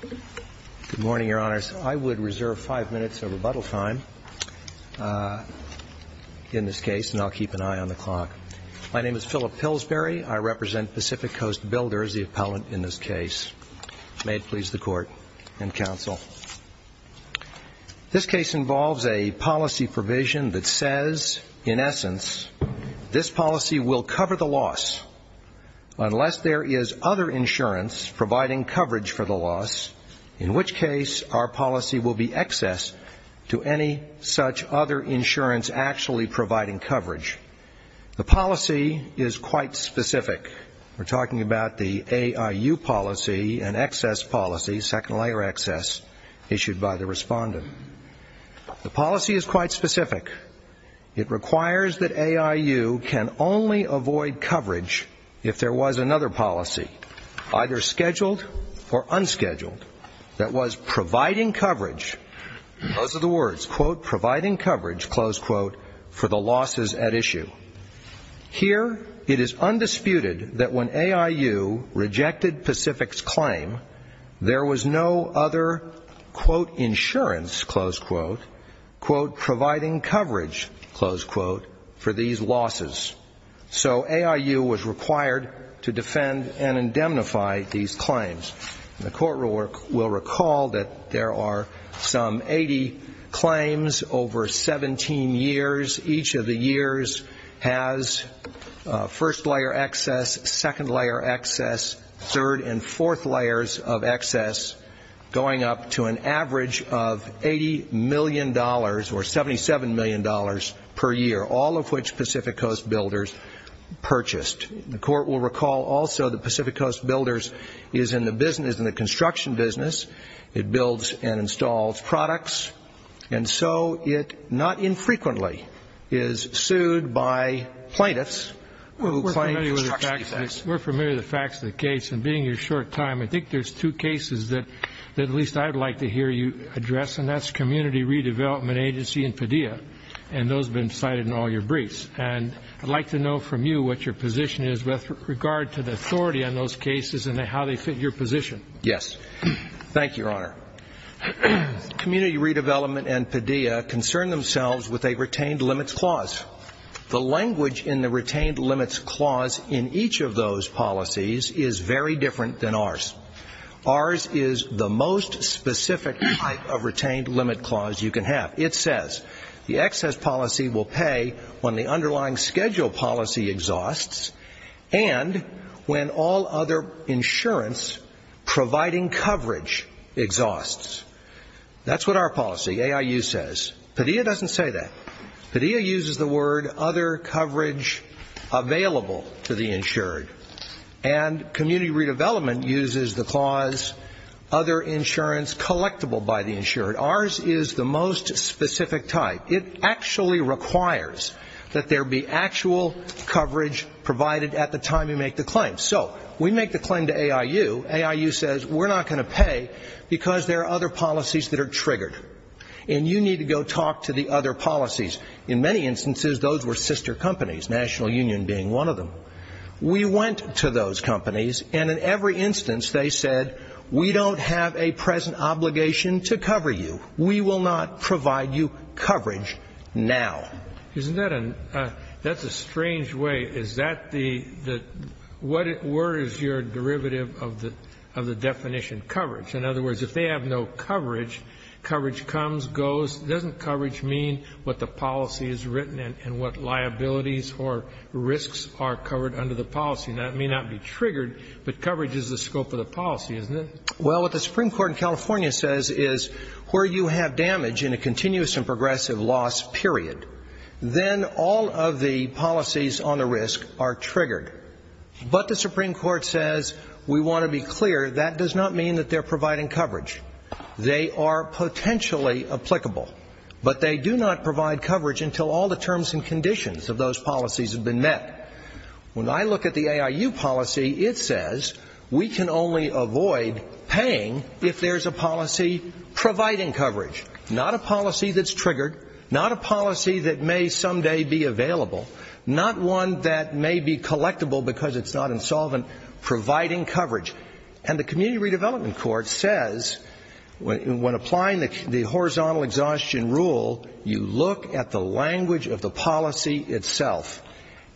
Good morning, Your Honors. I would reserve five minutes of rebuttal time in this case, and I'll keep an eye on the clock. My name is Phillip Pillsbury. I represent Pacific Coast Builders, the appellant in this case. May it please the Court and Counsel. This case involves a policy provision that says, in essence, this policy will cover the for the loss, in which case our policy will be excess to any such other insurance actually providing coverage. The policy is quite specific. We're talking about the AIU policy, an excess policy, second layer excess, issued by the respondent. The policy is quite specific. It requires that AIU can only avoid coverage if there was another policy, either scheduled or unscheduled, that was providing coverage, those are the words, quote, providing coverage, close quote, for the losses at issue. Here, it is undisputed that when AIU rejected Pacific's claim, there was no other, quote, insurance, close quote, quote, providing coverage, close quote, for these losses. So AIU was required to defend and indemnify these claims. The Court will recall that there are some 80 claims over 17 years. Each of the years has first layer excess, second layer excess, third and fourth layers of excess, going up to an average of $80 million or $77 million per year, all of which Pacific Coast Builders purchased. The Court will recall also that Pacific Coast Builders is in the construction business. It builds and installs products. And so it, not infrequently, is sued by plaintiffs who claim construction defects. We're familiar with the facts of the case. And being your short time, I think there's two cases that at least I'd like to hear you address, and that's Community Redevelopment and Padilla. And those have been cited in all your briefs. And I'd like to know from you what your position is with regard to the authority on those cases and how they fit your position. Yes. Thank you, Your Honor. Community Redevelopment and Padilla concern themselves with a retained limits clause. The language in the retained limits clause in each of those policies is very different than ours. Ours is the most specific type of retained limit clause you can have. It says the excess policy will pay when the underlying schedule policy exhausts and when all other insurance providing coverage exhausts. That's what our policy, AIU, says. Padilla doesn't say that. Padilla uses the word other coverage available to the insured. And Community Redevelopment uses the clause other insurance collectible by the insured. Ours is the most specific type. It actually requires that there be actual coverage provided at the time you make the claim. So we make the claim to AIU. AIU says we're not going to pay because there are other policies that are triggered. And you need to go talk to the other policies. In many instances, those were sister companies, National Union being one of them. We went to those companies, and in every instance they said, we don't have a present obligation to cover you. We will not provide you coverage now. Isn't that a — that's a strange way. Is that the — what were is your derivative of the definition, coverage? In other words, if they have no coverage, coverage comes, goes. Doesn't coverage mean what the policy is written and what liabilities or risks are covered under the policy? And that may not be triggered, but coverage is the scope of the policy, isn't it? Well, what the Supreme Court in California says is where you have damage in a continuous and progressive loss period, then all of the policies on the risk are triggered. But the Supreme Court says, we want to be clear, that does not mean that they're providing coverage. They are potentially applicable. But they do not provide coverage until all the terms and conditions of those policies have been met. When I look at the AIU policy, it says we can only avoid paying if there's a policy providing coverage, not a policy that's triggered, not a policy that may someday be available, not one that may be collectible because it's not insolvent, providing coverage. And the Community Redevelopment Court says when applying the horizontal exhaustion rule, you look at the language of the policy itself.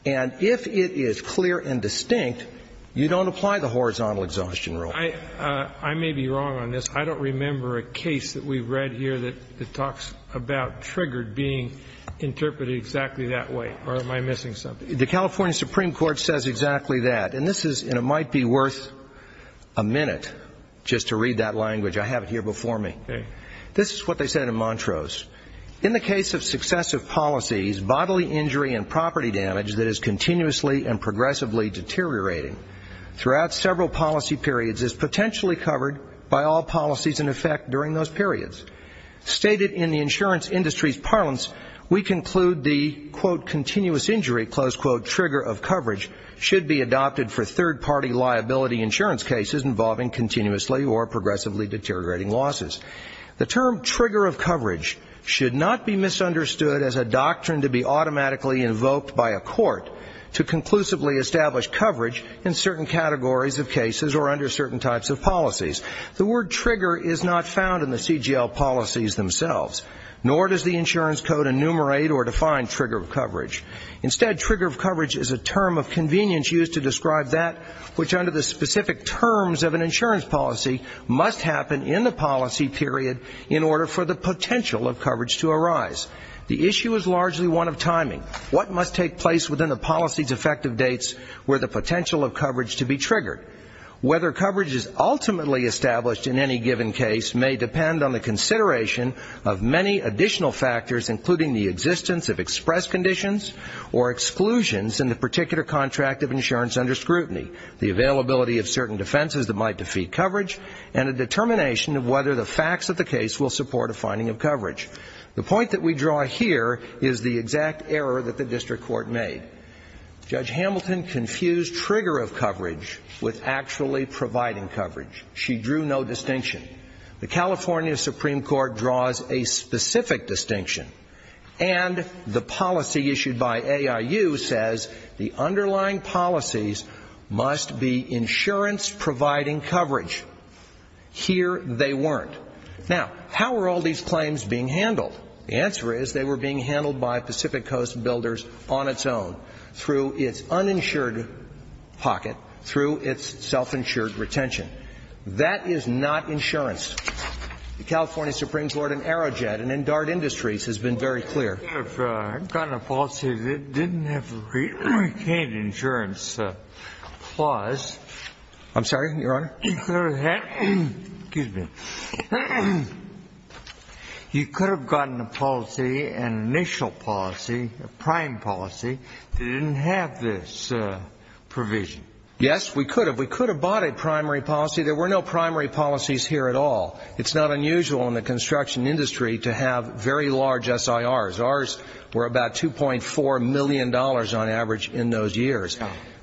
And if it is clear and distinct, you don't apply the horizontal exhaustion rule. I may be wrong on this. I don't remember a case that we've read here that talks about triggered being interpreted exactly that way. Or am I missing something? The California Supreme Court says exactly that. And this is, and it might be worth a minute just to read that language. I have it here before me. This is what they said in Montrose. In the case of successive policies, bodily injury and property damage that is continuously and progressively deteriorating throughout several policy periods is potentially covered by all policies in effect during those periods. Stated in the insurance industry's parlance, we conclude the, quote, continuous injury, close quote, trigger of coverage should be adopted for third-party liability insurance cases involving continuously or progressively deteriorating losses. The term trigger of coverage should not be misunderstood as a doctrine to be automatically invoked by a court to conclusively establish coverage in certain categories of cases or under certain types of policies. The word trigger is not found in the CGL policies themselves, nor does the insurance code enumerate or define trigger of coverage. Instead, trigger of coverage is a term of convenience used to describe that which under the specific terms of an insurance policy must happen in the policy period in order for the potential of coverage to arise. The issue is largely one of timing. What must take place within the policy's effective dates were the potential of coverage to be triggered? Whether coverage is ultimately established in any given case may depend on the consideration of many additional factors, including the existence of express conditions or exclusions in the particular contract of insurance under scrutiny, the availability of certain defenses that might defeat coverage, and a determination of whether the facts of the case will support a finding of coverage. The point that we draw here is the exact error that the district court made. Judge Hamilton confused trigger of coverage with actually providing coverage. She drew no distinction. The California Supreme Court draws a specific distinction, and the policy issued by AIU says the underlying policies must be insurance providing coverage. Here, they weren't. Now, how were all these claims being handled? The answer is they were being handled by Pacific Coast Builders on its own, through its uninsured pocket, through its self-insured retention. That is not insurance. The California Supreme Court in Aerojet and in Dart Industries has been very clear. You could have gotten a policy that didn't have a retained insurance clause. I'm sorry, Your Honor? Excuse me. You could have gotten a policy, an initial policy, a prime policy, that didn't have this provision. Yes, we could have. We could have bought a primary policy. There were no primary policies here at all. It's not unusual in the construction industry to have very large SIRs. Ours were about $2.4 million on average in those years.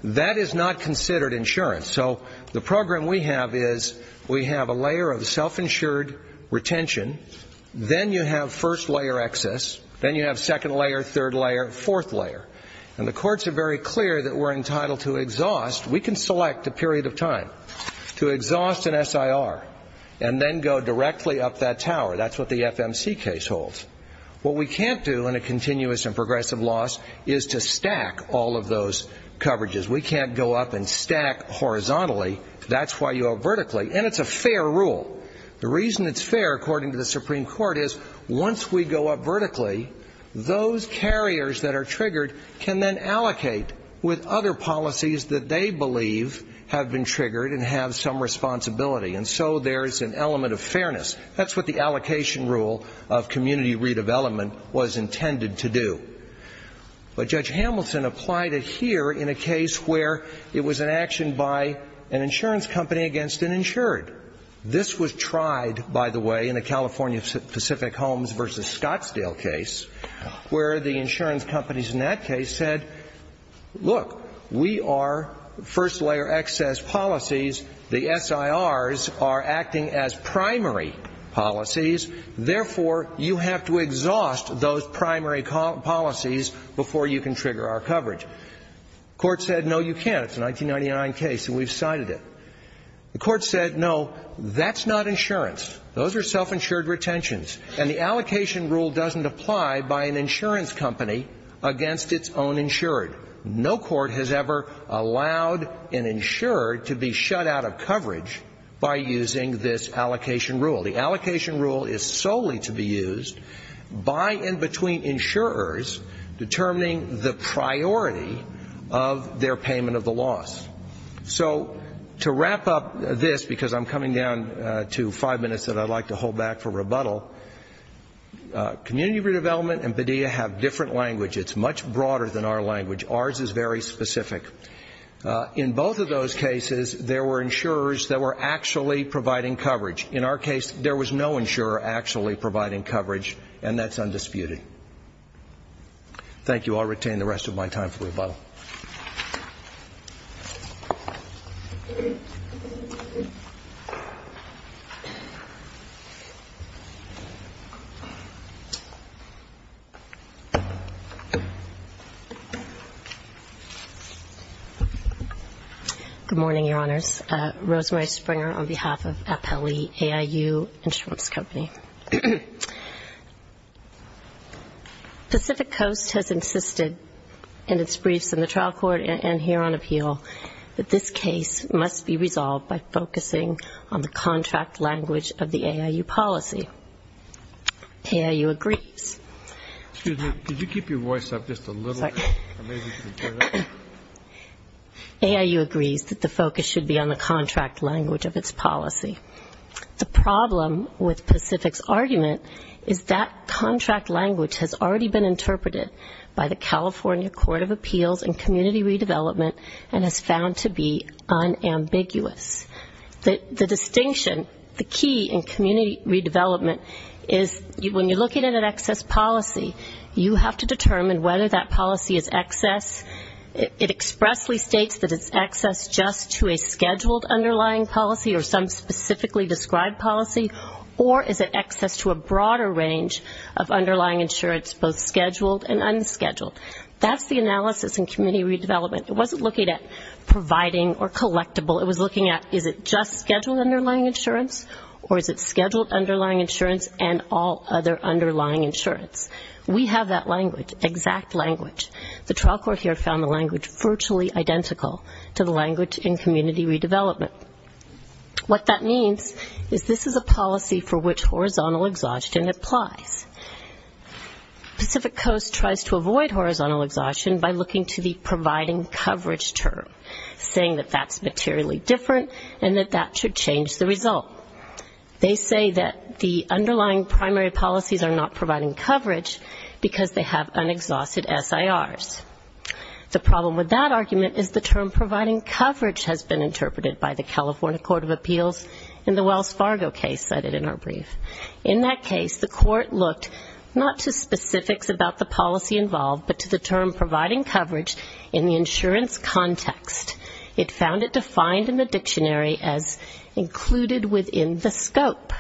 That is not considered insurance. So the program we have is we have a layer of self-insured retention. Then you have first layer excess. Then you have second layer, third layer, fourth layer. And the courts are very clear that we're entitled to exhaust. We can select a period of time to exhaust an SIR and then go directly up that tower. That's what the FMC case holds. What we can't do in a continuous and progressive loss is to stack all of those coverages. We can't go up and stack horizontally. That's why you go vertically. And it's a fair rule. The reason it's fair, according to the Supreme Court, is once we go up vertically, those carriers that are triggered can then allocate with other policies that they believe have been triggered and have some responsibility. And so there's an element of fairness. That's what the allocation rule of community redevelopment was intended to do. But Judge Hamilton applied it here in a case where it was an action by an insurance company against an insured. This was tried, by the way, in the California Pacific Homes v. Scottsdale case, where the insurance companies in that case said, look, we are first layer excess policies. The SIRs are acting as primary policies. Therefore, you have to exhaust those primary policies before you can trigger our coverage. Court said, no, you can't. It's a 1999 case, and we've cited it. The court said, no, that's not insurance. Those are self-insured retentions. And the allocation rule doesn't apply by an insurer to be shut out of coverage by using this allocation rule. The allocation rule is solely to be used by and between insurers determining the priority of their payment of the loss. So to wrap up this, because I'm coming down to five minutes that I'd like to hold back for rebuttal, community redevelopment and BDEA have different language. It's much broader than our language. Ours is very specific. In both of those cases, there were insurers that were actually providing coverage. In our case, there was no insurer actually providing coverage, and that's undisputed. Thank you. I'll retain the rest of my time for rebuttal. Good morning, Your Honors. Rosemary Springer on behalf of Appellee AIU Insurance Company. Pacific Coast has insisted in its briefs in the trial court and here on appeal that this case must be resolved by focusing on the contract language of the AIU policy. AIU agrees. Excuse me. Could you keep your voice up just a little bit? Sorry. AIU agrees that the focus should be on the contract language of its policy. The problem with Pacific's argument is that contract language has already been interpreted by the California Court of Appeals in community redevelopment and is found to be unambiguous. The distinction, the key in community redevelopment is when you're looking at an excess policy, you have to determine whether that policy is excess. It expressly states that it's excess just to a scheduled underlying policy or some specifically described policy, or is it excess to a broader range of underlying insurance, both scheduled and unscheduled. That's the analysis in community redevelopment. It wasn't looking at providing or collectible. It was looking at is it just scheduled underlying insurance or is it scheduled underlying insurance and all other underlying insurance. We have that language, exact language. The trial court here found the language virtually identical to the language in community redevelopment. What that means is this is a policy for which horizontal exhaustion applies. Pacific Coast tries to avoid horizontal exhaustion by looking to the providing coverage term, saying that that's materially different and that that should change the result. They say that the underlying primary policies are not providing coverage because they have unexhausted SIRs. The problem with that argument is the term providing coverage has been interpreted by the California Court of Appeals in the Wells Fargo case cited in our brief. In that case, the court looked not to specifics about the policy involved, but to the term providing coverage in the insurance context. It found it defined in the dictionary as included within the scope.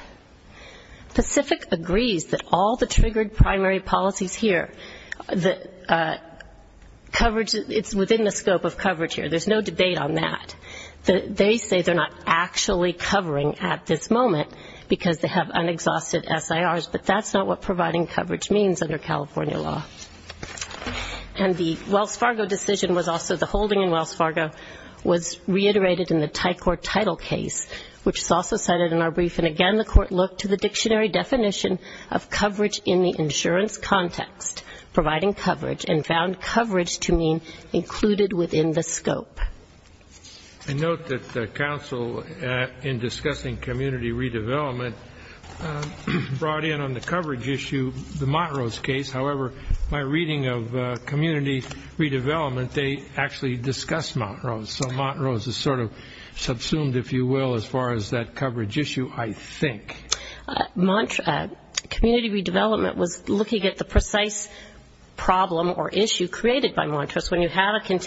Pacific agrees that all the triggered primary policies here, the coverage, it's within the scope of coverage here. There's no debate on that. They say they're not actually covering at this moment because they have unexhausted SIRs, but that's not what providing coverage means under California law. And the Wells Fargo decision was also the holding in Wells Fargo was reiterated in the Thai Court title case, which is also cited in our brief. And again, the court looked to the dictionary definition of coverage in the insurance context, providing coverage, and found coverage to mean included within the scope. I note that counsel in discussing community redevelopment brought in on the coverage issue the Montrose case. However, my reading of community redevelopment, they actually discussed Montrose. So Montrose is sort of subsumed, if you will, as far as that coverage issue, I think. Community redevelopment was looking at the precise problem or issue created by Montrose. When you have a Montrose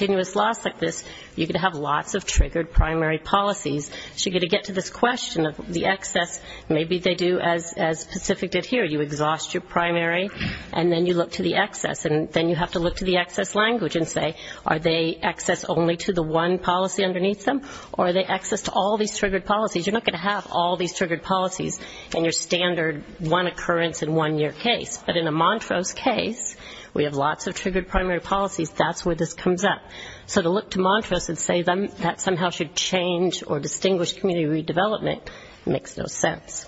case, you're going to have lots of triggered primary policies. So you're going to get to this question of the excess. Maybe they do as Pacific did here. You exhaust your primary, and then you look to the excess. And then you have to look to the excess language and say, are they excess only to the one policy underneath them? Or are they excess to all these triggered policies? You're not going to have all these triggered policies in your standard one occurrence in one year case. But in a Montrose case, we have lots of triggered primary policies. That's where this comes up. So to look to Montrose and say that somehow should change or distinguish community redevelopment makes no sense.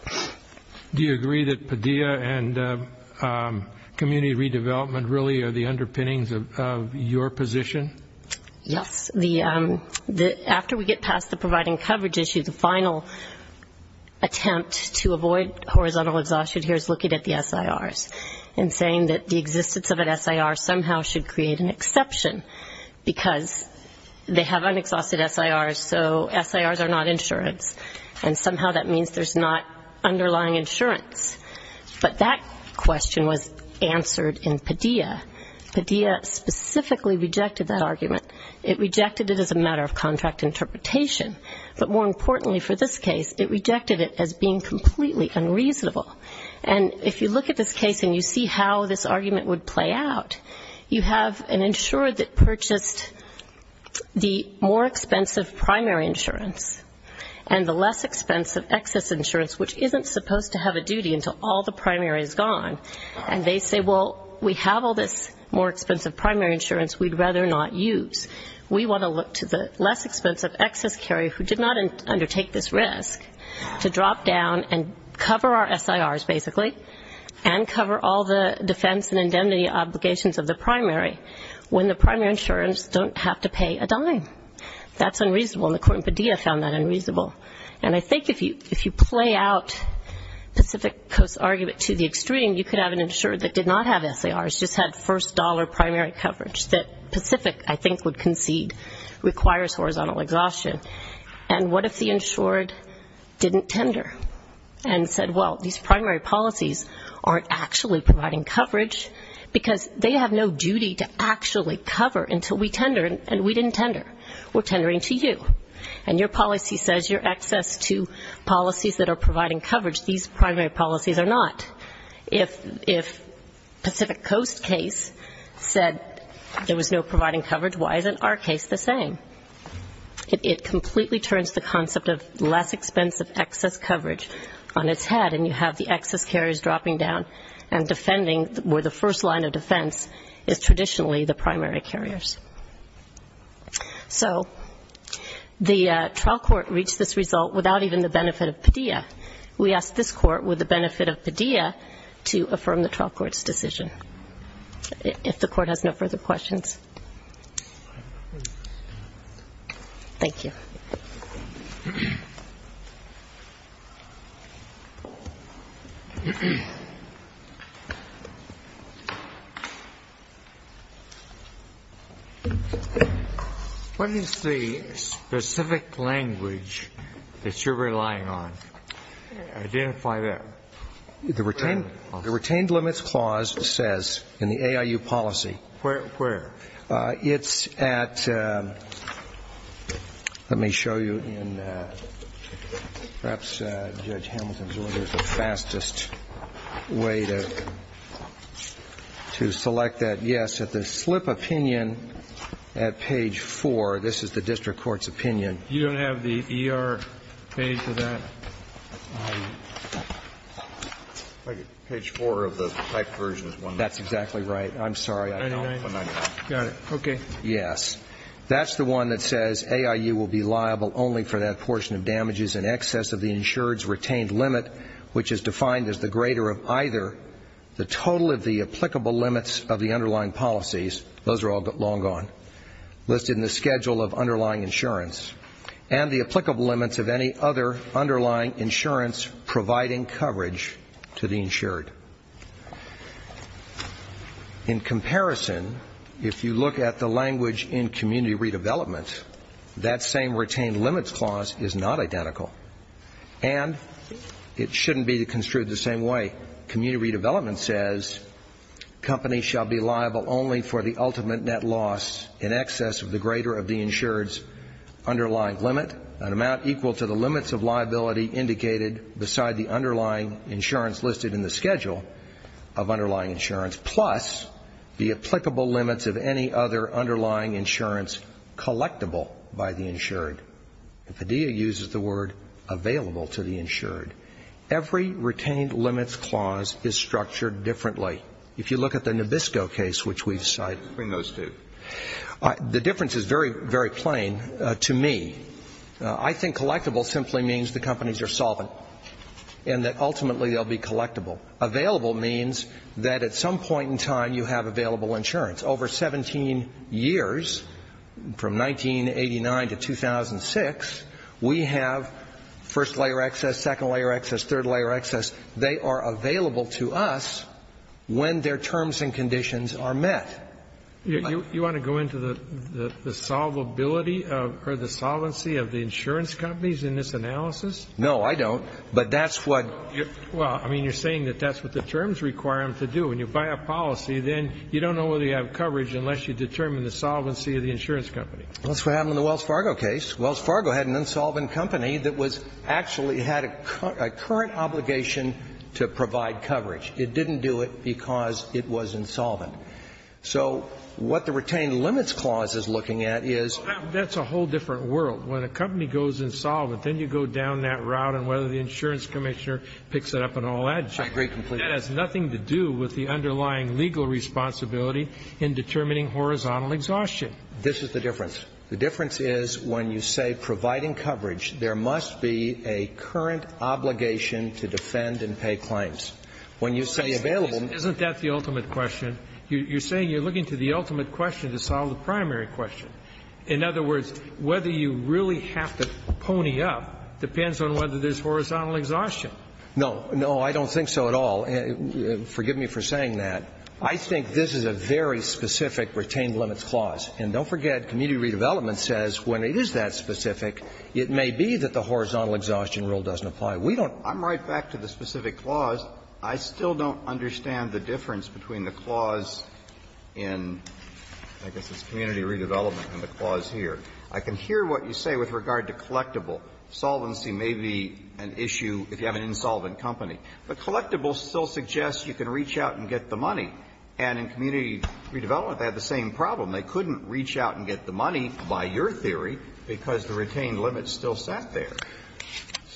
Do you agree that PDEA and community redevelopment really are the underpinnings of your position? Yes. After we get past the providing coverage issue, the final attempt to avoid horizontal exhaustion here is looking at the SIRs and saying that the existence of an SIR somehow should create an excess. There's an exception, because they have unexhausted SIRs, so SIRs are not insurance. And somehow that means there's not underlying insurance. But that question was answered in PDEA. PDEA specifically rejected that argument. It rejected it as a matter of contract interpretation. But more importantly for this case, it rejected it as being completely unreasonable. And if you look at this case and you see how this argument would play out, you have an insurer that purchased the more expensive primary insurance and the less expensive excess insurance, which isn't supposed to have a duty until all the primary is gone. And they say, well, we have all this more expensive primary insurance, we'd rather not use. We want to look to the less expensive excess carrier who did not undertake this risk to drop down and cover our SIRs, basically, and cover all the defense and indemnity obligations of the primary. When the primary insurers don't have to pay a dime. That's unreasonable. And the court in PDEA found that unreasonable. And I think if you play out Pacific Coast's argument to the extreme, you could have an insurer that did not have SIRs, just had first dollar primary coverage that Pacific, I think, would concede requires horizontal exhaustion. And what if the insured didn't tender and said, well, these primary policies aren't actually providing coverage, because they have no duty to actually cover until we tender, and we didn't tender. We're tendering to you. And your policy says you're excess to policies that are providing coverage. These primary policies are not. If Pacific Coast's case said there was no providing coverage, why isn't our case the same? It completely turns the concept of less expensive excess coverage on its head, and you have the excess carriers dropping down and defending where the first line of defense is traditionally the primary carriers. So the trial court reached this result without even the benefit of PDEA. We ask this court, with the benefit of PDEA, to affirm the trial court's decision. If the court has no further questions. Thank you. What is the specific language that you're relying on? Identify that. The retained limits clause says in the AIU policy Where? It's at, let me show you in perhaps Judge Hamilton's order, the fastest way to identify it. To select that, yes, at the slip opinion at page 4. This is the district court's opinion. You don't have the ER page for that? Page 4 of the typed version is one that's exactly right. I'm sorry, I don't. Got it. Okay. Yes. That's the one that says AIU will be liable only for that portion of damages in excess of the insured's retained limit, which is defined as the greater of either the total of the applicable limits of the underlying policies, those are all long gone, listed in the schedule of underlying insurance, and the applicable limits of any other underlying insurance providing coverage to the insured. In comparison, if you look at the language in community redevelopment, that same retained limits clause is not identical. And it shouldn't be construed the same way. Community redevelopment says, companies shall be liable only for the ultimate net loss in excess of the greater of the insured's underlying limit, an amount equal to the limits of liability indicated beside the underlying insurance listed in the schedule of underlying insurance, plus the applicable limits of any other underlying insurance collectible by the insured. And Padilla uses the word available to the insured. Every retained limits clause is structured differently. If you look at the Nabisco case, which we've cited. Between those two. The difference is very, very plain to me. I think collectible simply means the companies are solvent, and that ultimately they'll be collectible. Available means that at some point in time you have available insurance. Over 17 years, from 1989 to 2000, the insurance companies are available to us. In 2006, we have first-layer excess, second-layer excess, third-layer excess. They are available to us when their terms and conditions are met. You want to go into the solvability or the solvency of the insurance companies in this analysis? No, I don't. But that's what you're saying, that that's what the terms require them to do. When you buy a policy, then you don't know whether you have coverage unless you determine the solvency of the insurance company. That's what happened in the Wells Fargo case. Wells Fargo had an insolvent company that was actually had a current obligation to provide coverage. It didn't do it because it was insolvent. So what the retained limits clause is looking at is... That's a whole different world. When a company goes insolvent, then you go down that route on whether the insurance commissioner picks it up and all that. That has nothing to do with the underlying legal responsibility in determining horizontal exhaustion. This is the difference. The difference is when you say providing coverage, there must be a current obligation to defend and pay claims. When you say available... Isn't that the ultimate question? You're saying you're looking to the ultimate question to solve the primary question. In other words, whether you really have to pony up depends on whether there's horizontal exhaustion. No. No, I don't think so at all. Forgive me for saying that. I think this is a very specific retained limits clause. And don't forget, community redevelopment says when it is that specific, it may be that the horizontal exhaustion rule doesn't apply. We don't... I'm right back to the specific clause. I still don't understand the difference between the clause in, I guess it's community redevelopment and the clause here. I can hear what you say with regard to collectible. Solvency may be an issue if you have an insolvent company. But collectible still suggests you can reach out and get the money. And in community redevelopment, they had the same problem. They couldn't reach out and get the money, by your theory, because the retained limits still sat there.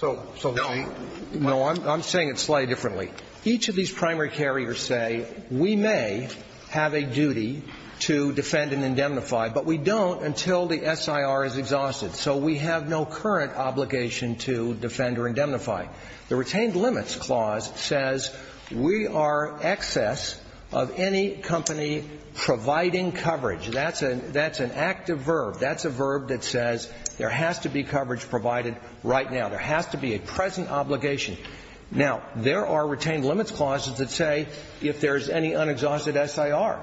No, I'm saying it slightly differently. Each of these primary carriers say we may have a duty to defend and indemnify, but we don't until the SIR is exhausted. So we have no current obligation to defend or indemnify. The retained limits clause says we are excess of any company providing coverage. That's an active verb. That's a verb that says there has to be coverage provided right now. There has to be a present obligation. Now, there are retained limits clauses that say if there's any unexhausted SIR,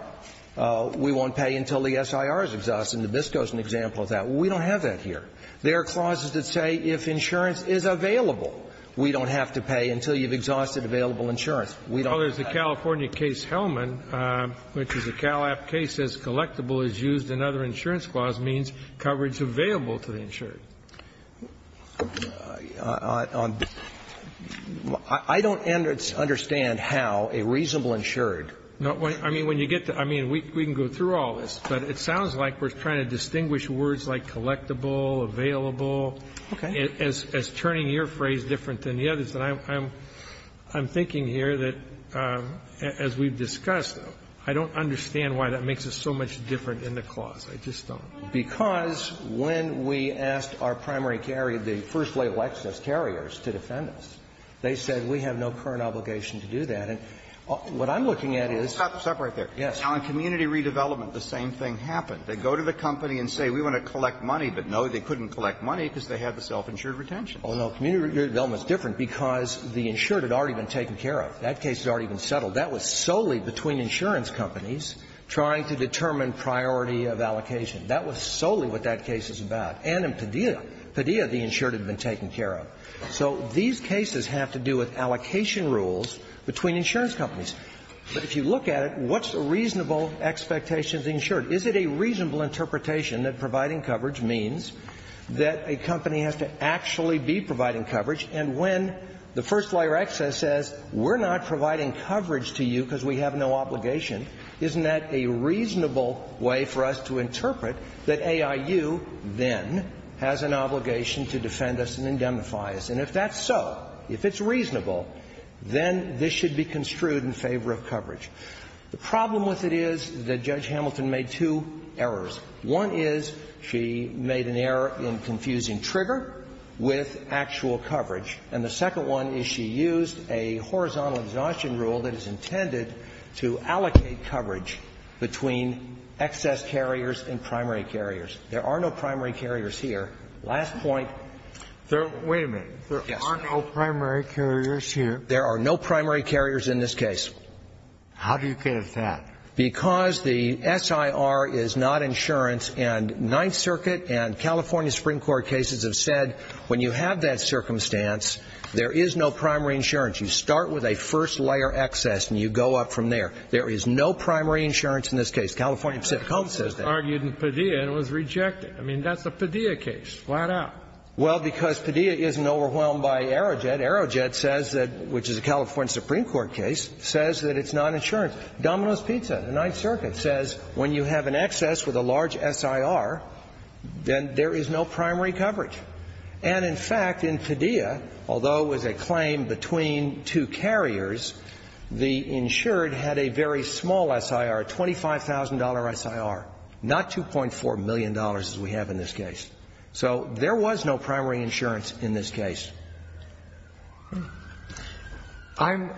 we won't pay until the SIR is exhausted. And Nabisco is an example of that. We don't have that here. There are clauses that say if insurance is available, we don't have to pay until you've exhausted available insurance. We don't have to pay until you've exhausted available insurance. Well, there's the California case Hellman, which is a Cal App case that says collectible is used in other insurance clause means coverage available to the insured. I don't understand how a reasonable insured can get coverage. I mean, we can go through all of this, but it sounds like we're trying to distinguish words like collectible, available, as turning your phrase different than the others. And I'm thinking here that, as we've discussed, I don't understand why that makes us so much different in the clause. I just don't. Because when we asked our primary carrier, the first-rate Lexus carriers, to defend us, they said we have no current obligation to do that. And on community redevelopment, the same thing happened. They go to the company and say, we want to collect money, but no, they couldn't collect money because they had the self-insured retention. Oh, no. Community redevelopment is different because the insured had already been taken care of. That case had already been settled. That was solely between insurance companies trying to determine priority of allocation. That was solely what that case is about. And in Padilla, Padilla, the insured had been taken care of. So these cases have to do with allocation rules between insurance companies. But if you look at it, what's a reasonable expectation of the insured? Is it a reasonable interpretation that providing coverage means that a company has to actually be providing coverage? And when the first-layer excess says we're not providing coverage to you because we have no obligation, isn't that a reasonable way for us to interpret that AIU then has an obligation to defend us and indemnify us? And if that's so, if it's reasonable, then this should be construed in favor of coverage. The problem with it is that Judge Hamilton made two errors. One is she made an error in confusing trigger with actual coverage. And the second one is she used a horizontal exhaustion rule that is intended to allocate coverage between excess carriers and primary carriers. There are no primary carriers here. Last point. Wait a minute. There are no primary carriers here. There are no primary carriers in this case. How do you get at that? Because the SIR is not insurance, and Ninth Circuit and California Supreme Court cases have said when you have that circumstance, there is no primary insurance. You start with a first-layer excess and you go up from there. There is no primary insurance in this case. California Pacific Coast says that. I mean, that's a Padilla case, flat out. Well, because Padilla isn't overwhelmed by Aerojet. Aerojet says that, which is a California Supreme Court case, says that it's not insurance. Domino's Pizza, the Ninth Circuit says when you have an excess with a large SIR, then there is no primary coverage. And, in fact, in Padilla, although it was a claim between two carriers, the insured had a very small SIR, a $25,000 SIR, not $2.4 million as we have in this case. So there was no primary insurance in this case. I'm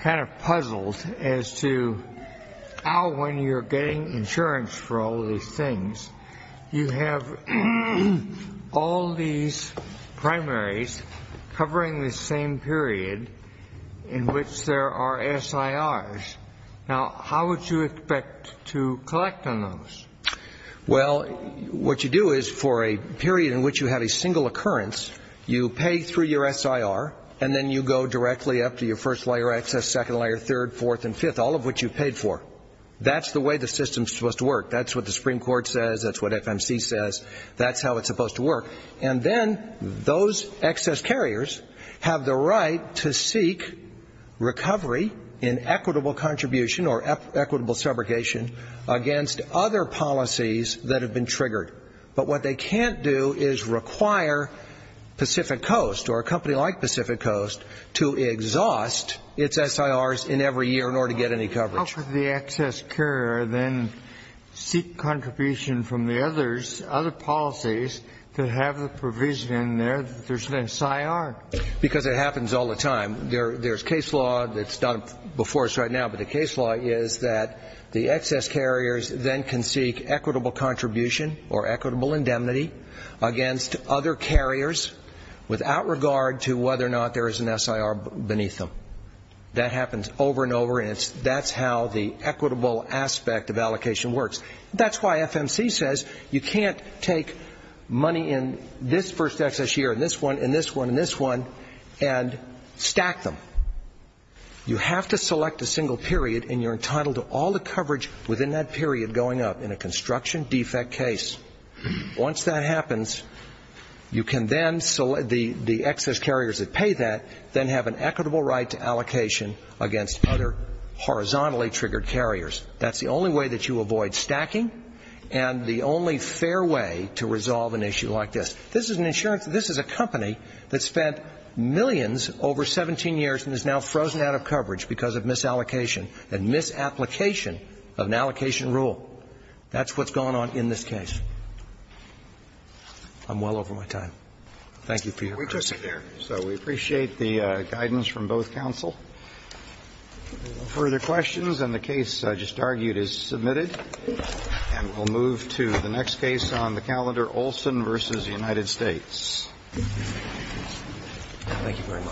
kind of puzzled as to how, when you're getting insurance for all these things, you have all these primaries covering the same period in which there are SIRs. Now, how would you expect to collect on those? Well, what you do is, for a period in which you have a single occurrence, you pay through your SIR and then you go directly up to your first-layer excess, second-layer, third, fourth and fifth, all of which you paid for. That's the way the system is supposed to work. That's what the Supreme Court says. That's what FMC says. That's how it's supposed to work. And then those excess carriers have the right to seek recovery in equitable contribution or equitable subrogation against other policies that have been triggered. But what they can't do is require Pacific Coast or a company like Pacific Coast to exhaust its SIRs in every year in order to get any coverage. How could the excess carrier then seek contribution from the others, other policies that have the provision in there that there's an SIR? Because it happens all the time. There's case law that's done before us right now, but the case law is that the excess carriers then can seek equitable contribution or equitable indemnity against other carriers without regard to whether or not there is an SIR beneath them. That happens over and over, and that's how the equitable aspect of allocation works. That's why FMC says you can't take money in this first excess year and this one and this one and this one and stack them. You have to select a single period, and you're entitled to all the coverage within that period going up in a construction defect case. Once that happens, you can then select the excess carriers that pay that, then have an equitable right to allocation against other horizontally triggered carriers. That's the only way that you avoid stacking and the only fair way to resolve an issue like this. This is an insurance. This is a company that spent millions over 17 years and is now frozen out of coverage because of misallocation and misapplication of an allocation rule. That's what's going on in this case. I'm well over my time. Thank you for your time. So we appreciate the guidance from both counsel. If there are no further questions, then the case I just argued is submitted, and we'll move to the next case on the calendar, Olson v. United States. Thank you very much.